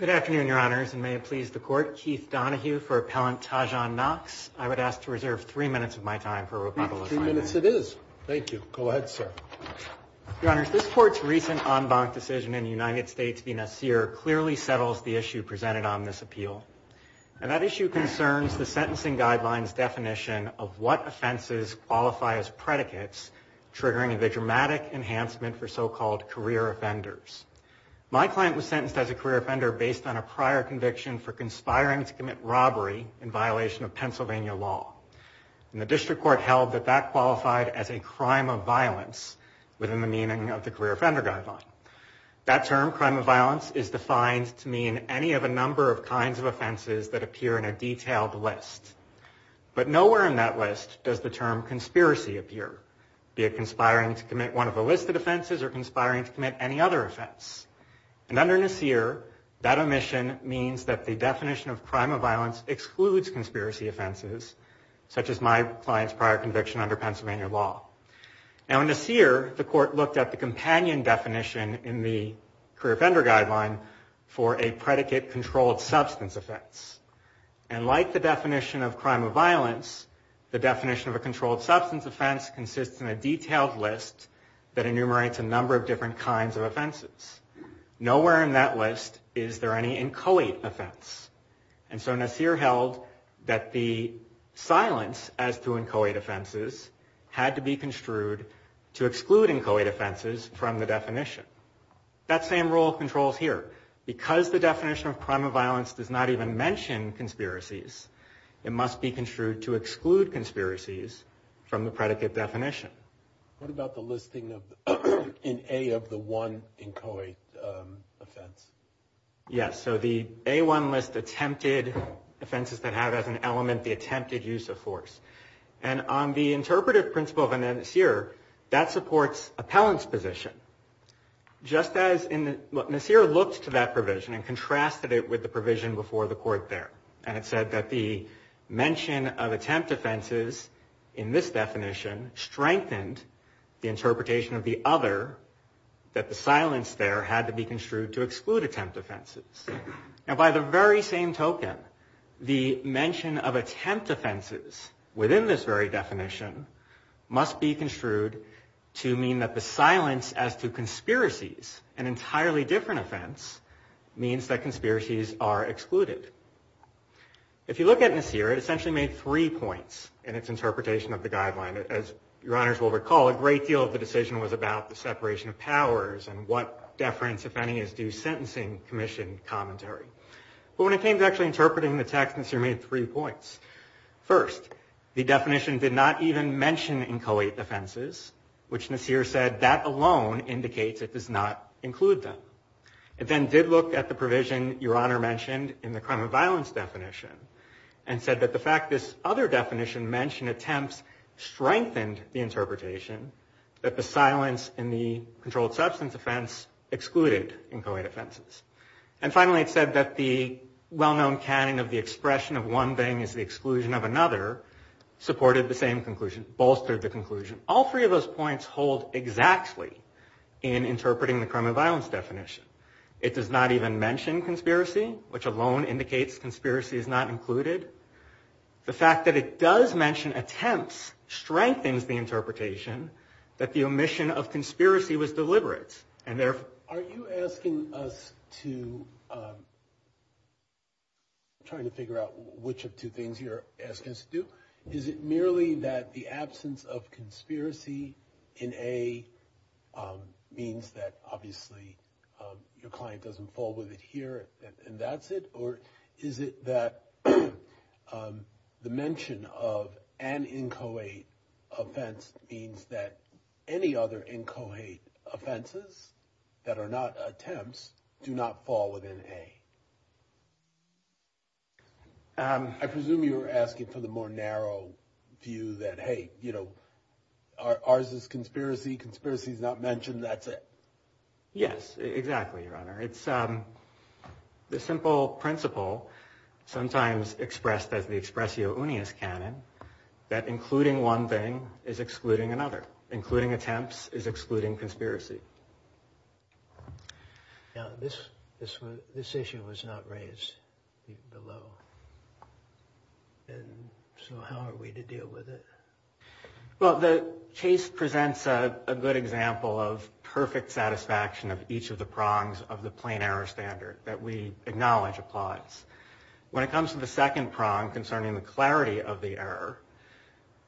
I would ask to reserve three minutes of my time for rebuttal. Three minutes it is. Thank you. Go ahead, sir. Your Honors, this Court's recent en banc decision in the United States v. Nasir clearly settles the issue presented on this appeal. And that issue concerns the sentencing guidelines definition of what offenses qualify as predicates triggering a dramatic enhancement for so-called career offenders. My client was sentenced as a career offender based on a prior conviction for conspiring to commit robbery in violation of Pennsylvania law. And the District Court held that that qualified as a crime of violence within the meaning of the career offender guideline. That term, crime of violence, is defined to mean any of a number of kinds of offenses that appear in a detailed list. But nowhere in that list does the term conspiracy appear, be it conspiring to commit one of the listed offenses or conspiring to commit any other offense. And under Nasir, that omission means that the definition of crime of violence excludes conspiracy offenses, such as my client's prior conviction under Pennsylvania law. Now in Nasir, the Court looked at the companion definition in the career offender guideline for a predicate controlled substance offense. And like the definition of crime of violence, the definition of a controlled substance offense consists in a detailed list that enumerates a number of different kinds of offenses. Nowhere in that list is there any inchoate offense. And so Nasir held that the silence as to inchoate offenses had to be construed to exclude inchoate offenses from the definition. That same rule controls here. Because the definition of crime of violence does not even mention conspiracies, it must be construed to exclude conspiracies from the predicate definition. What about the listing in A of the one inchoate offense? Yes, so the A1 list attempted offenses that have as an element the attempted use of force. And on the interpretive principle of Nasir, that supports appellant's position. Just as Nasir looked to that provision and contrasted it with the provision before the Court there. And it said that the mention of attempt offenses in this definition strengthened the interpretation of the other, that the silence there had to be construed to exclude attempt offenses. And by the very same token, the mention of attempt offenses within this very definition must be construed to mean that the silence as to conspiracies, an entirely different offense, means that conspiracies are excluded. If you look at Nasir, it essentially made three points in its interpretation of the guideline. As your honors will recall, a great deal of the decision was about the separation of powers and what deference, if any, is due sentencing commission commentary. But when it came to actually interpreting the text, Nasir made three points. First, the definition did not even mention inchoate offenses, which Nasir said that alone indicates it does not include them. It then did look at the provision your honor mentioned in the crime and violence definition and said that the fact this other definition mentioned attempts strengthened the interpretation that the silence in the controlled substance offense excluded inchoate offenses. And finally, it said that the well-known canon of the expression of one thing is the exclusion of another supported the same conclusion, bolstered the conclusion. All three of those points hold exactly in interpreting the crime and violence definition. It does not even mention conspiracy, which alone indicates conspiracy is not included. The fact that it does mention attempts strengthens the interpretation that the omission of conspiracy was deliberate. Are you asking us to try to figure out which of two things you're asking us to do? Is it merely that the absence of conspiracy in A means that obviously your client doesn't fall with it here and that's it? Or is it that the mention of an inchoate offense means that any other inchoate offenses that are not attempts do not fall within A? I presume you're asking for the more narrow view that hey, you know, ours is conspiracy. Conspiracy is not mentioned. That's it. Yes, exactly, Your Honor. It's the simple principle sometimes expressed as the expressio unius canon that including one thing is excluding another. Including attempts is excluding conspiracy. Now, this issue was not raised below. So how are we to deal with it? Well, the case presents a good example of perfect satisfaction of each of the prongs of the plain error standard that we acknowledge applies. When it comes to the second prong concerning the clarity of the error,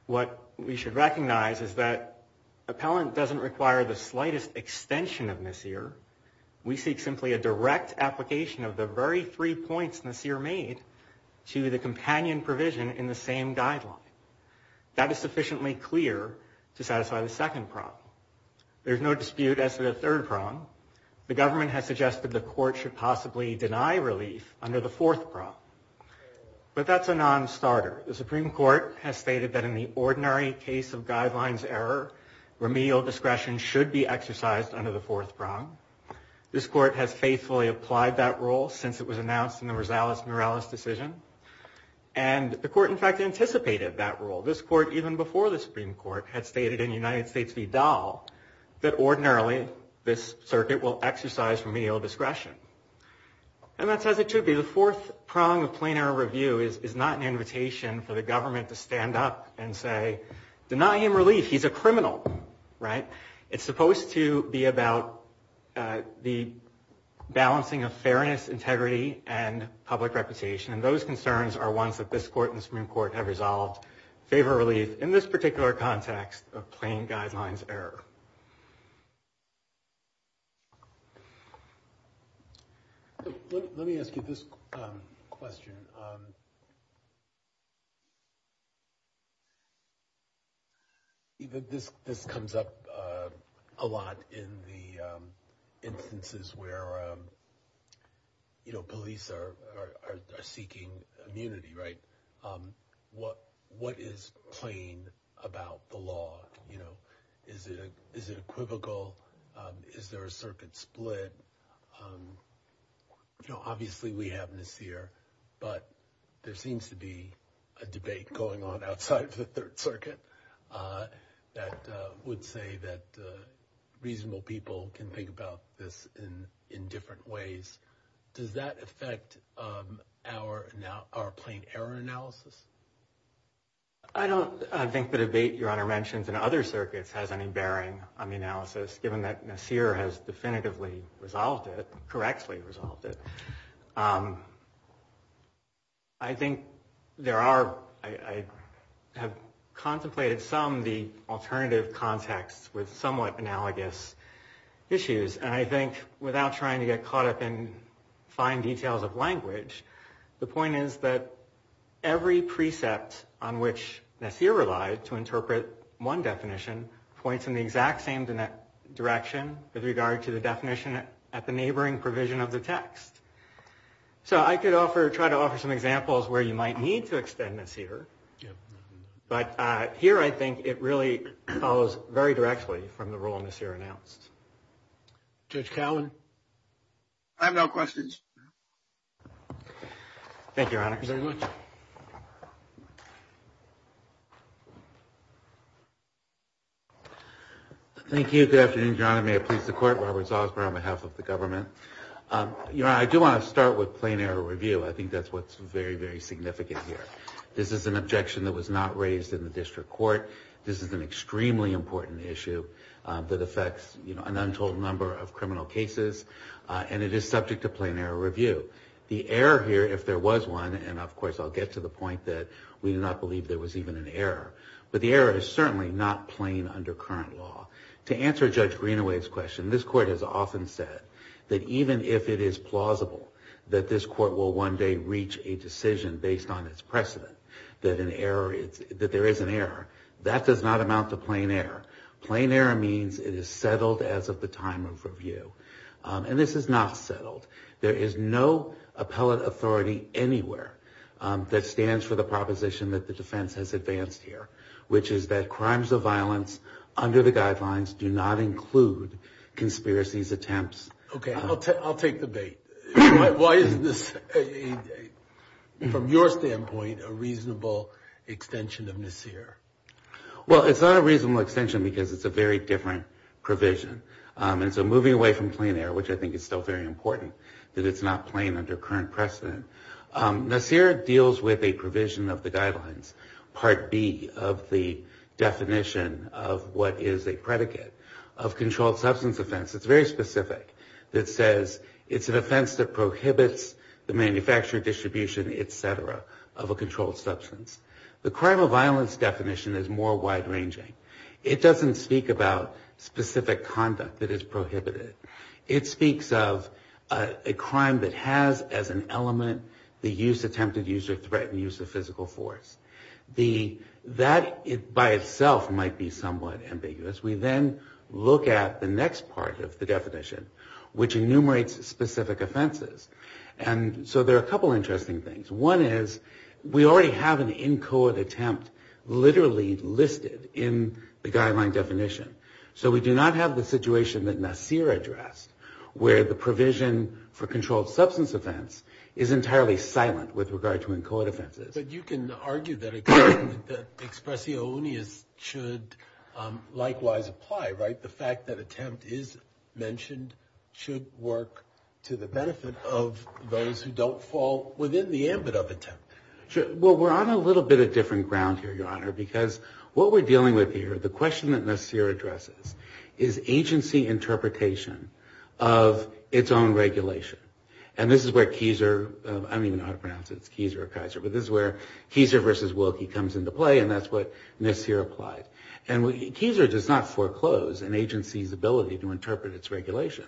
what we should recognize is that appellant doesn't require the slightest extension of Nassir. We seek simply a direct application of the very three points Nassir made to the companion provision in the same guideline. That is sufficiently clear to satisfy the second prong. There's no dispute as to the third prong. The government has suggested the court should possibly deny relief under the fourth prong. But that's a nonstarter. The Supreme Court has stated that in the ordinary case of guidelines error, remedial discretion should be exercised under the fourth prong. This court has faithfully applied that rule since it was announced in the Rosales-Morales decision. And the court, in fact, anticipated that rule. This court, even before the Supreme Court, had stated in United States v. Dahl that ordinarily this circuit will exercise remedial discretion. And that's as it should be. The fourth prong of plain error review is not an invitation for the government to stand up and say, deny him relief. He's a criminal, right? It's supposed to be about the balancing of fairness, integrity, and public reputation. And those concerns are ones that this court and the Supreme Court have resolved favor relief in this particular context of plain guidelines error. Let me ask you this question. This comes up a lot in the instances where police are seeking immunity, right? What is plain about the law? Is it equivocal? Is there a circuit split? Obviously, we have Nasir, but there seems to be a debate going on outside of the Third Circuit that would say that reasonable people can think about this in different ways. Does that affect our plain error analysis? I don't think the debate Your Honor mentions in other circuits has any bearing on the analysis, given that Nasir has definitively resolved it, correctly resolved it. I think there are, I have contemplated some, the alternative contexts with somewhat analogous issues. And I think without trying to get caught up in fine details of language, the point is that every precept on which Nasir relied to interpret one definition points in the exact same direction with regard to the definition at the neighboring provision of the text. So I could offer, try to offer some examples where you might need to extend Nasir. But here I think it really follows very directly from the role Nasir announced. Judge Cowen? I have no questions. Thank you, Your Honor. Thank you very much. Thank you. Good afternoon, Your Honor. May it please the Court. Robert Salzberg on behalf of the government. Your Honor, I do want to start with plain error review. I think that's what's very, very significant here. This is an objection that was not raised in the district court. This is an extremely important issue that affects, you know, an untold number of criminal cases. And it is subject to plain error review. The error here, if there was one, and of course I'll get to the point that we do not believe there was even an error, but the error is certainly not plain under current law. To answer Judge Greenaway's question, this Court has often said that even if it is plausible that this Court will one day reach a decision based on its precedent that an error, that there is an error, that does not amount to plain error. Plain error means it is settled as of the time of review. And this is not settled. There is no appellate authority anywhere that stands for the proposition that the defense has advanced here, which is that crimes of violence under the guidelines do not include conspiracies, attempts. Okay, I'll take the bait. Why is this, from your standpoint, a reasonable extension of Nassir? Well, it's not a reasonable extension because it's a very different provision. And so moving away from plain error, which I think is still very important, that it's not plain under current precedent. Nassir deals with a provision of the guidelines, Part B of the definition of what is a predicate of controlled substance offense. It's very specific. It says it's an offense that prohibits the manufacturing, distribution, et cetera, of a controlled substance. The crime of violence definition is more wide-ranging. It doesn't speak about specific conduct that is prohibited. It speaks of a crime that has as an element the use, attempted use, or threatened use of physical force. That by itself might be somewhat ambiguous. We then look at the next part of the definition, which enumerates specific offenses. And so there are a couple interesting things. One is we already have an in-court attempt literally listed in the guideline definition. So we do not have the situation that Nassir addressed, where the provision for controlled substance offense is entirely silent with regard to in-court offenses. But you can argue that expressiones should likewise apply, right? The fact that attempt is mentioned should work to the benefit of those who don't fall within the ambit of attempt. Well, we're on a little bit of different ground here, Your Honor, because what we're dealing with here, the question that Nassir addresses, is agency interpretation of its own regulation. And this is where Kieser, I don't even know how to pronounce it, it's Kieser or Kaiser, but this is where Kieser versus Wilkie comes into play, and that's what Nassir applied. And Kieser does not foreclose an agency's ability to interpret its regulation.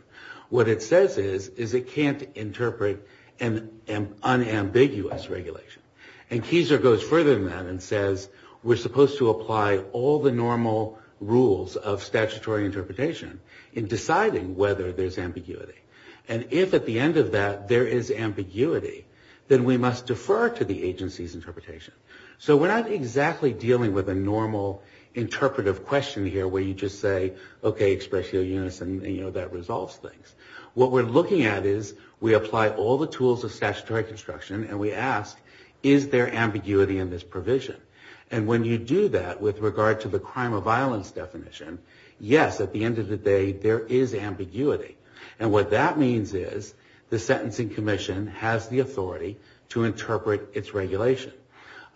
What it says is, is it can't interpret an unambiguous regulation. And Kieser goes further than that and says, we're supposed to apply all the normal rules of statutory interpretation in deciding whether there's ambiguity. And if at the end of that there is ambiguity, then we must defer to the agency's interpretation. So we're not exactly dealing with a normal interpretive question here where you just say, okay, express your units and that resolves things. What we're looking at is we apply all the tools of statutory construction and we ask, is there ambiguity in this provision? And when you do that with regard to the crime of violence definition, yes, at the end of the day, there is ambiguity. And what that means is the sentencing commission has the authority to interpret its regulation.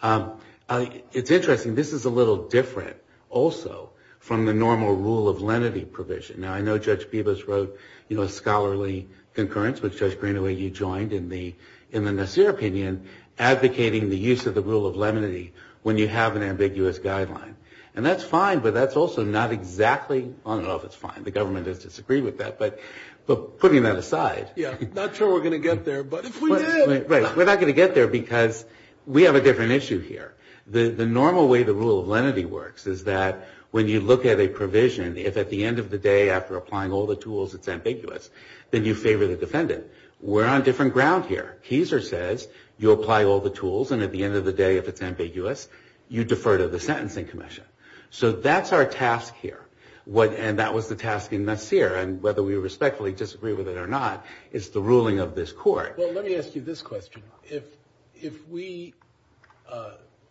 It's interesting. This is a little different also from the normal rule of lenity provision. Now, I know Judge Peebles wrote a scholarly concurrence, which Judge Greenaway, you joined in the Nassir opinion, advocating the use of the rule of lenity when you have an ambiguous guideline. And that's fine, but that's also not exactly, I don't know if it's fine, the government has disagreed with that, but putting that aside. Yeah, not sure we're going to get there, but if we did. Right, we're not going to get there because we have a different issue here. The normal way the rule of lenity works is that when you look at a provision, if at the end of the day after applying all the tools it's ambiguous, then you favor the defendant. We're on different ground here. Keiser says you apply all the tools and at the end of the day if it's ambiguous, you defer to the sentencing commission. So that's our task here. And that was the task in Nassir. And whether we respectfully disagree with it or not is the ruling of this court. Well, let me ask you this question. If we,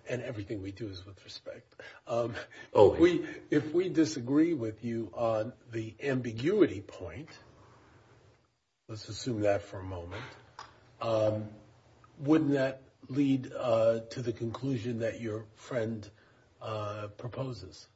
and everything we do is with respect, if we disagree with you on the ambiguity point, let's assume that for a moment, wouldn't that lead to the conclusion that your friend proposes?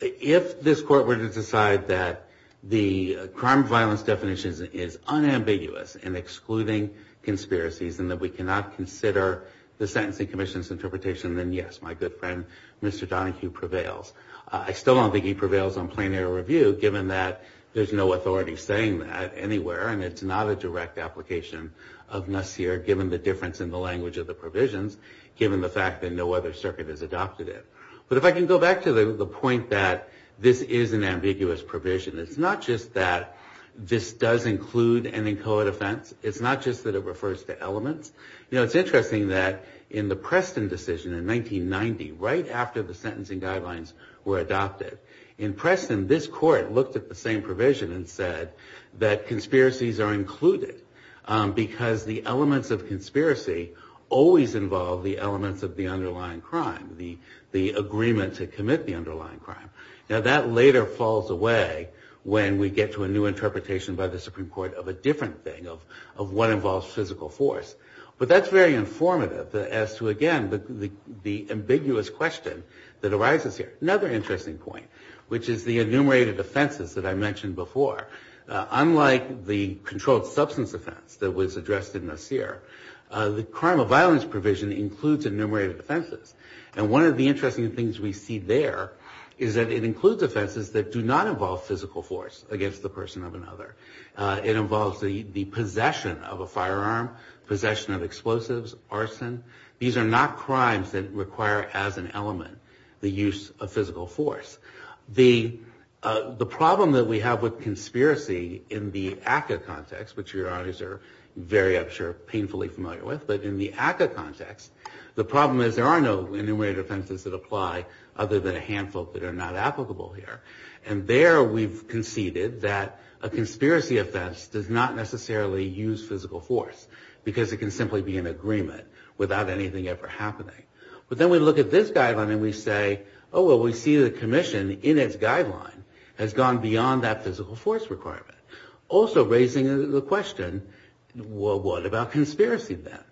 If this court were to decide that the crime of violence definition is unambiguous and excluding conspiracies and that we cannot consider the sentencing commission's interpretation, then yes, my good friend, Mr. Donohue prevails. I still don't think he prevails on plain air review given that there's no authority saying that anywhere and it's not a direct application of Nassir given the difference in the language of the provisions, given the fact that no other circuit has adopted it. But if I can go back to the point that this is an ambiguous provision, it's not just that this does include an inchoate offense. It's not just that it refers to elements. You know, it's interesting that in the Preston decision in 1990, right after the sentencing guidelines were adopted, in Preston this court looked at the same provision and said that conspiracies are included because the elements of conspiracy always involve the elements of the underlying crime, the agreement to commit the underlying crime. Now that later falls away when we get to a new interpretation by the Supreme Court of a different thing of what involves physical force. But that's very informative as to, again, the ambiguous question that arises here. Another interesting point, which is the enumerated offenses that I mentioned before. Unlike the controlled substance offense that was addressed in Nassir, the crime of violence provision includes enumerated offenses. And one of the interesting things we see there is that it includes offenses that do not involve physical force against the person of another. It involves the possession of a firearm, possession of explosives, arson. These are not crimes that require as an element the use of physical force. The problem that we have with conspiracy in the ACCA context, which your audience are very, I'm sure, painfully familiar with, but in the ACCA context, the problem is there are no enumerated offenses that apply other than a handful that are not applicable here. And there we've conceded that a conspiracy offense does not necessarily use physical force because it can simply be an agreement without anything ever happening. But then we look at this guideline and we say, oh, well, we see the commission in its guideline has gone beyond that physical force requirement. Also raising the question, well, what about conspiracy then?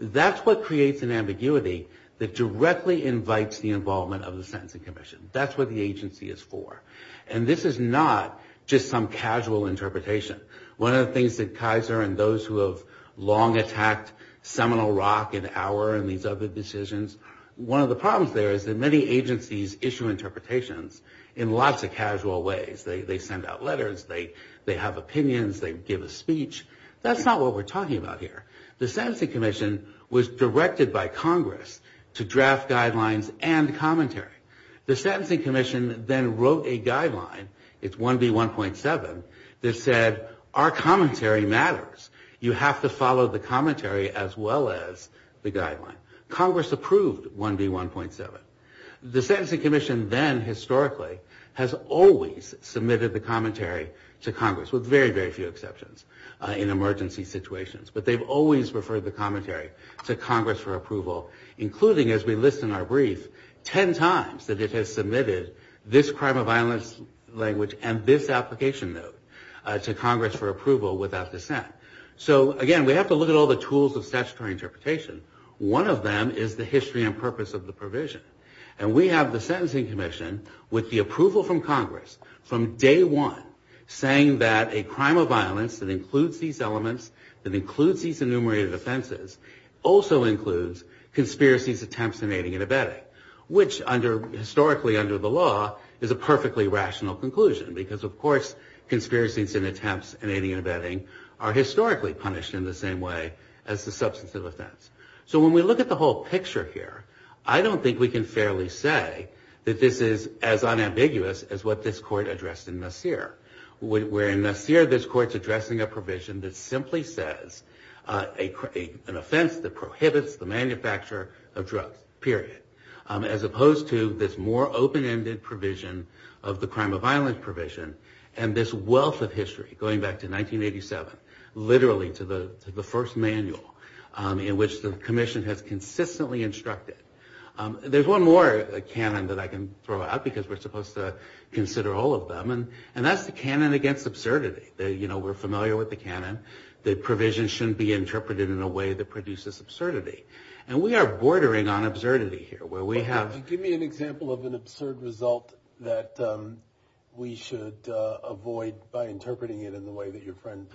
That's what creates an ambiguity that directly invites the involvement of the sentencing commission. That's what the agency is for. And this is not just some casual interpretation. One of the things that Kaiser and those who have long attacked Seminole Rock and Auer and these other decisions, one of the problems there is that many agencies issue interpretations in lots of casual ways. They send out letters, they have opinions, they give a speech. That's not what we're talking about here. The sentencing commission was directed by Congress to draft guidelines and commentary. The sentencing commission then wrote a guideline, it's 1B1.7, that said our commentary matters. You have to follow the commentary as well as the guideline. Congress approved 1B1.7. The sentencing commission then historically has always submitted the commentary to Congress with very, very few exceptions in emergency situations. But they've always referred the commentary to Congress for approval, including, as we list in our brief, 10 times that it has submitted this crime of violence language and this application note to Congress for approval without dissent. So again, we have to look at all the tools of statutory interpretation. One of them is the history and purpose of the provision. And we have the sentencing commission with the approval from Congress from day one saying that a crime of violence that includes these elements, that includes these enumerated offenses, also includes conspiracies, attempts, and aiding and abetting, which historically under the law is a perfectly rational conclusion because of course conspiracies and attempts and aiding and abetting are historically punished in the same way as the substantive offense. So when we look at the whole picture here, I don't think we can fairly say that this is as unambiguous as what this court addressed in Nasir. Where in Nasir, this court's addressing a provision that simply says an offense that prohibits the manufacture of drugs, period, as opposed to this more open-ended provision of the crime of violence provision and this wealth of history going back to 1987, literally to the first manual in which the commission has consistently instructed. There's one more canon that I can throw out because we're supposed to consider all of them and that's the canon against absurdity. You know, we're familiar with the canon that provisions shouldn't be interpreted in a way that produces absurdity. And we are bordering on absurdity here where we have... that we should avoid by interpreting it in the way that your friend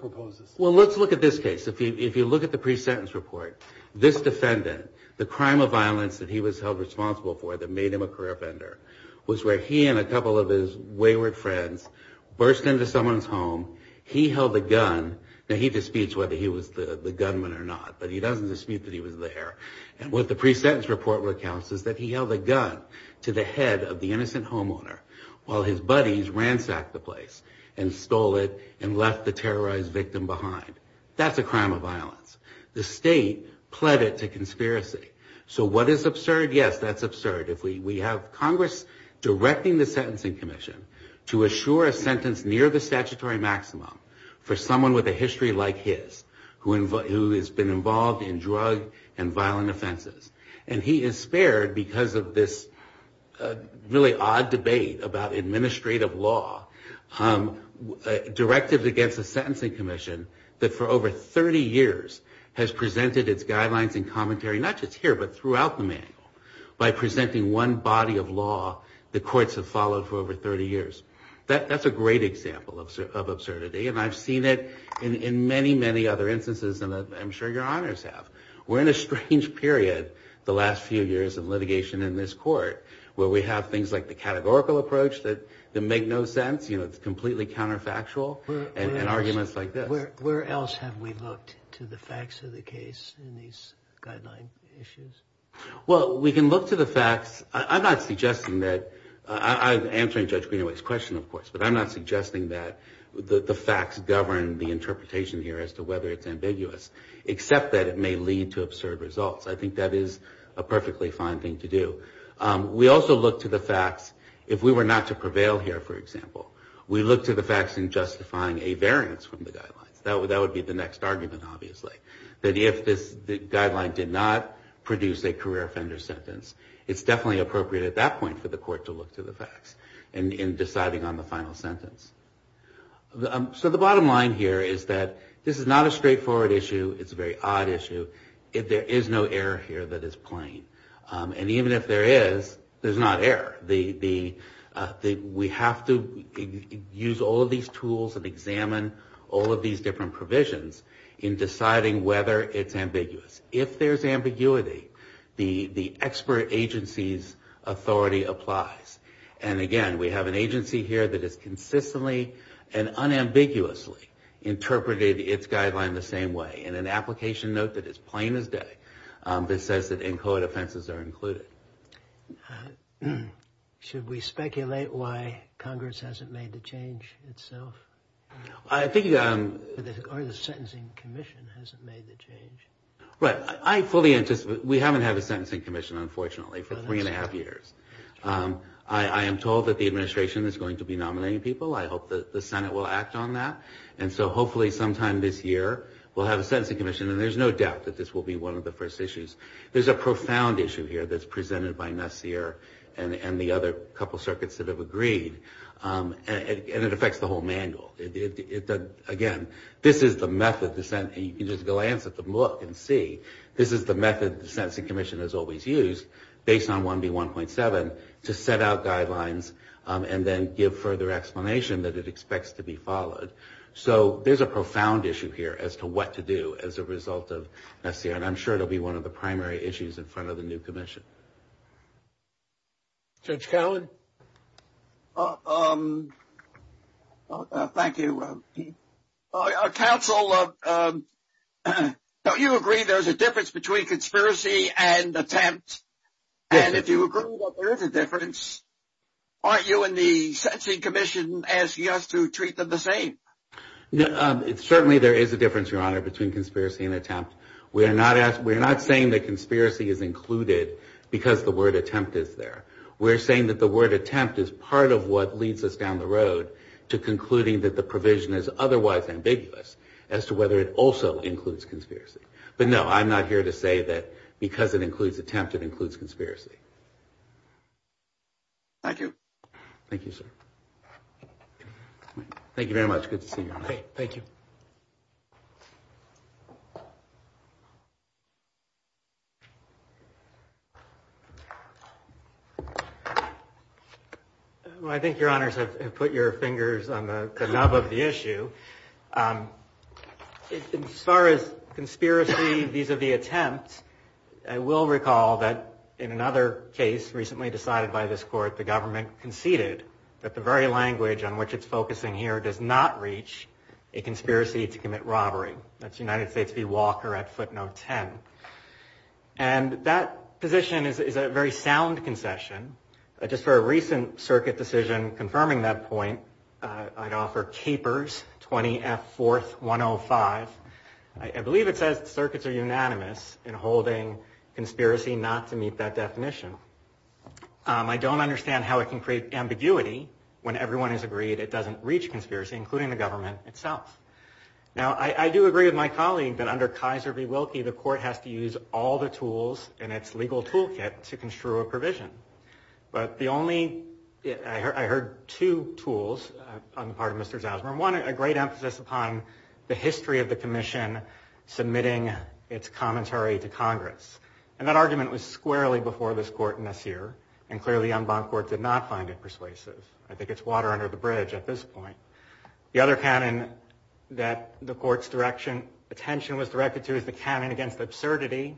proposes. Well, let's look at this case. If you look at the pre-sentence report, this defendant, the crime of violence that he was held responsible for that made him a career offender was where he and a couple of his wayward friends burst into someone's home. He held a gun. Now, he disputes whether he was the gunman or not, but he doesn't dispute that he was there. And what the pre-sentence report recounts is that he held a gun to the head of the innocent homeowner while his buddies ransacked the place and stole it and left the terrorized victim behind. That's a crime of violence. The state pled it to conspiracy. So what is absurd? Yes, that's absurd. If we have Congress directing the Sentencing Commission to assure a sentence near the statutory maximum for someone with a history like his who has been involved in drug and violent offenses, and he is spared because of this really odd debate about administrative law, directives against the Sentencing Commission that for over 30 years has presented its guidelines and commentary not just here but throughout the manual by presenting one body of law the courts have followed for over 30 years. That's a great example of absurdity, and I've seen it in many, many other instances and I'm sure your honors have. We're in a strange period the last few years of litigation in this court where we have things like the categorical approach that make no sense. It's completely counterfactual and arguments like this. Where else have we looked to the facts of the case in these guideline issues? Well, we can look to the facts. I'm not suggesting that I'm answering Judge Greenaway's question, of course, but I'm not suggesting that the facts govern the interpretation here as to whether it's ambiguous except that it may lead to absurd results. I think that is a perfectly fine thing to do. We also look to the facts if we were not to prevail here, for example. We look to the facts in justifying a variance from the guidelines. That would be the next argument, obviously, that if the guideline did not produce a career offender sentence, in deciding on the final sentence. So the bottom line here is that this is not a straightforward issue. It's a very odd issue. There is no error here that is plain. And even if there is, there's not error. We have to use all of these tools and examine all of these different provisions in deciding whether it's ambiguous. If there's ambiguity, the expert agency's authority applies. And again, we have an agency here that has consistently and unambiguously interpreted its guideline the same way in an application note that is plain as day that says that inchoate offenses are included. Should we speculate why Congress hasn't made the change itself? I think... Or the Sentencing Commission hasn't made the change. Right. I fully anticipate... We haven't had a Sentencing Commission, unfortunately, for three and a half years. I am told that the administration is going to be nominating people. I hope that the Senate will act on that. And so hopefully sometime this year we'll have a Sentencing Commission. And there's no doubt that this will be one of the first issues. There's a profound issue here that's presented by Nassir and the other couple circuits that have agreed. And it affects the whole manual. Again, this is the method... You can just glance at the book and see. This is the method the Sentencing Commission has always used based on 1B1.7 to set out guidelines and then give further explanation that it expects to be followed. So there's a profound issue here as to what to do as a result of Nassir. And I'm sure it will be one of the primary issues in front of the new commission. Judge Cowen? Thank you. Counsel, don't you agree there's a difference between conspiracy and attempt? And if you agree that there is a difference, aren't you and the Sentencing Commission asking us to treat them the same? Certainly there is a difference, Your Honor, between conspiracy and attempt. We're not saying that conspiracy is included because the word attempt is there. We're saying that the word attempt is part of what leads us down the road to concluding that the provision is otherwise ambiguous as to whether it also includes conspiracy. But no, I'm not here to say that because it includes attempt, it includes conspiracy. Thank you. Thank you, sir. Thank you very much. Good to see you. Thank you. Well, I think, Your Honors, I've put your fingers on the nub of the issue. As far as conspiracy vis-a-vis attempt, I will recall that in another case recently decided by this court, the government conceded that the very language on which it's focusing here does not reach a conspiracy to commit robbery. That's United States v. Walker at footnote 10. And that position is a very sound concession. Just for a recent circuit decision confirming that point, I'd offer Capers 20F4105. I believe it says circuits are unanimous in holding conspiracy not to meet that definition. I don't understand how it can create ambiguity when everyone has agreed it doesn't reach conspiracy, including the government itself. Now, I do agree with my colleague that under Kaiser v. Wilkie, the court has to use all the tools in its legal toolkit to construe a provision. But the only – I heard two tools on the part of Mr. Zausman. One, a great emphasis upon the history of the commission submitting its commentary to Congress. And that argument was squarely before this court in this year. And clearly, Umbach Court did not find it persuasive. I think it's water under the bridge at this point. The other canon that the court's attention was directed to is the canon against absurdity.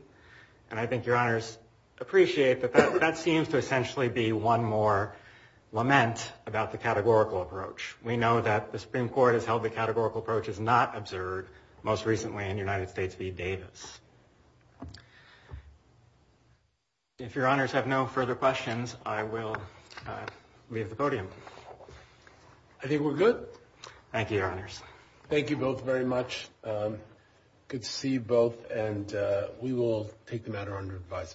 And I think Your Honors appreciate that that seems to essentially be one more lament about the categorical approach. We know that the Supreme Court has held the categorical approach is not absurd, most recently in United States v. Davis. If Your Honors have no further questions, I will leave the podium. I think we're good. Thank you, Your Honors. Thank you both very much. Good to see you both. And we will take the matter under advisement.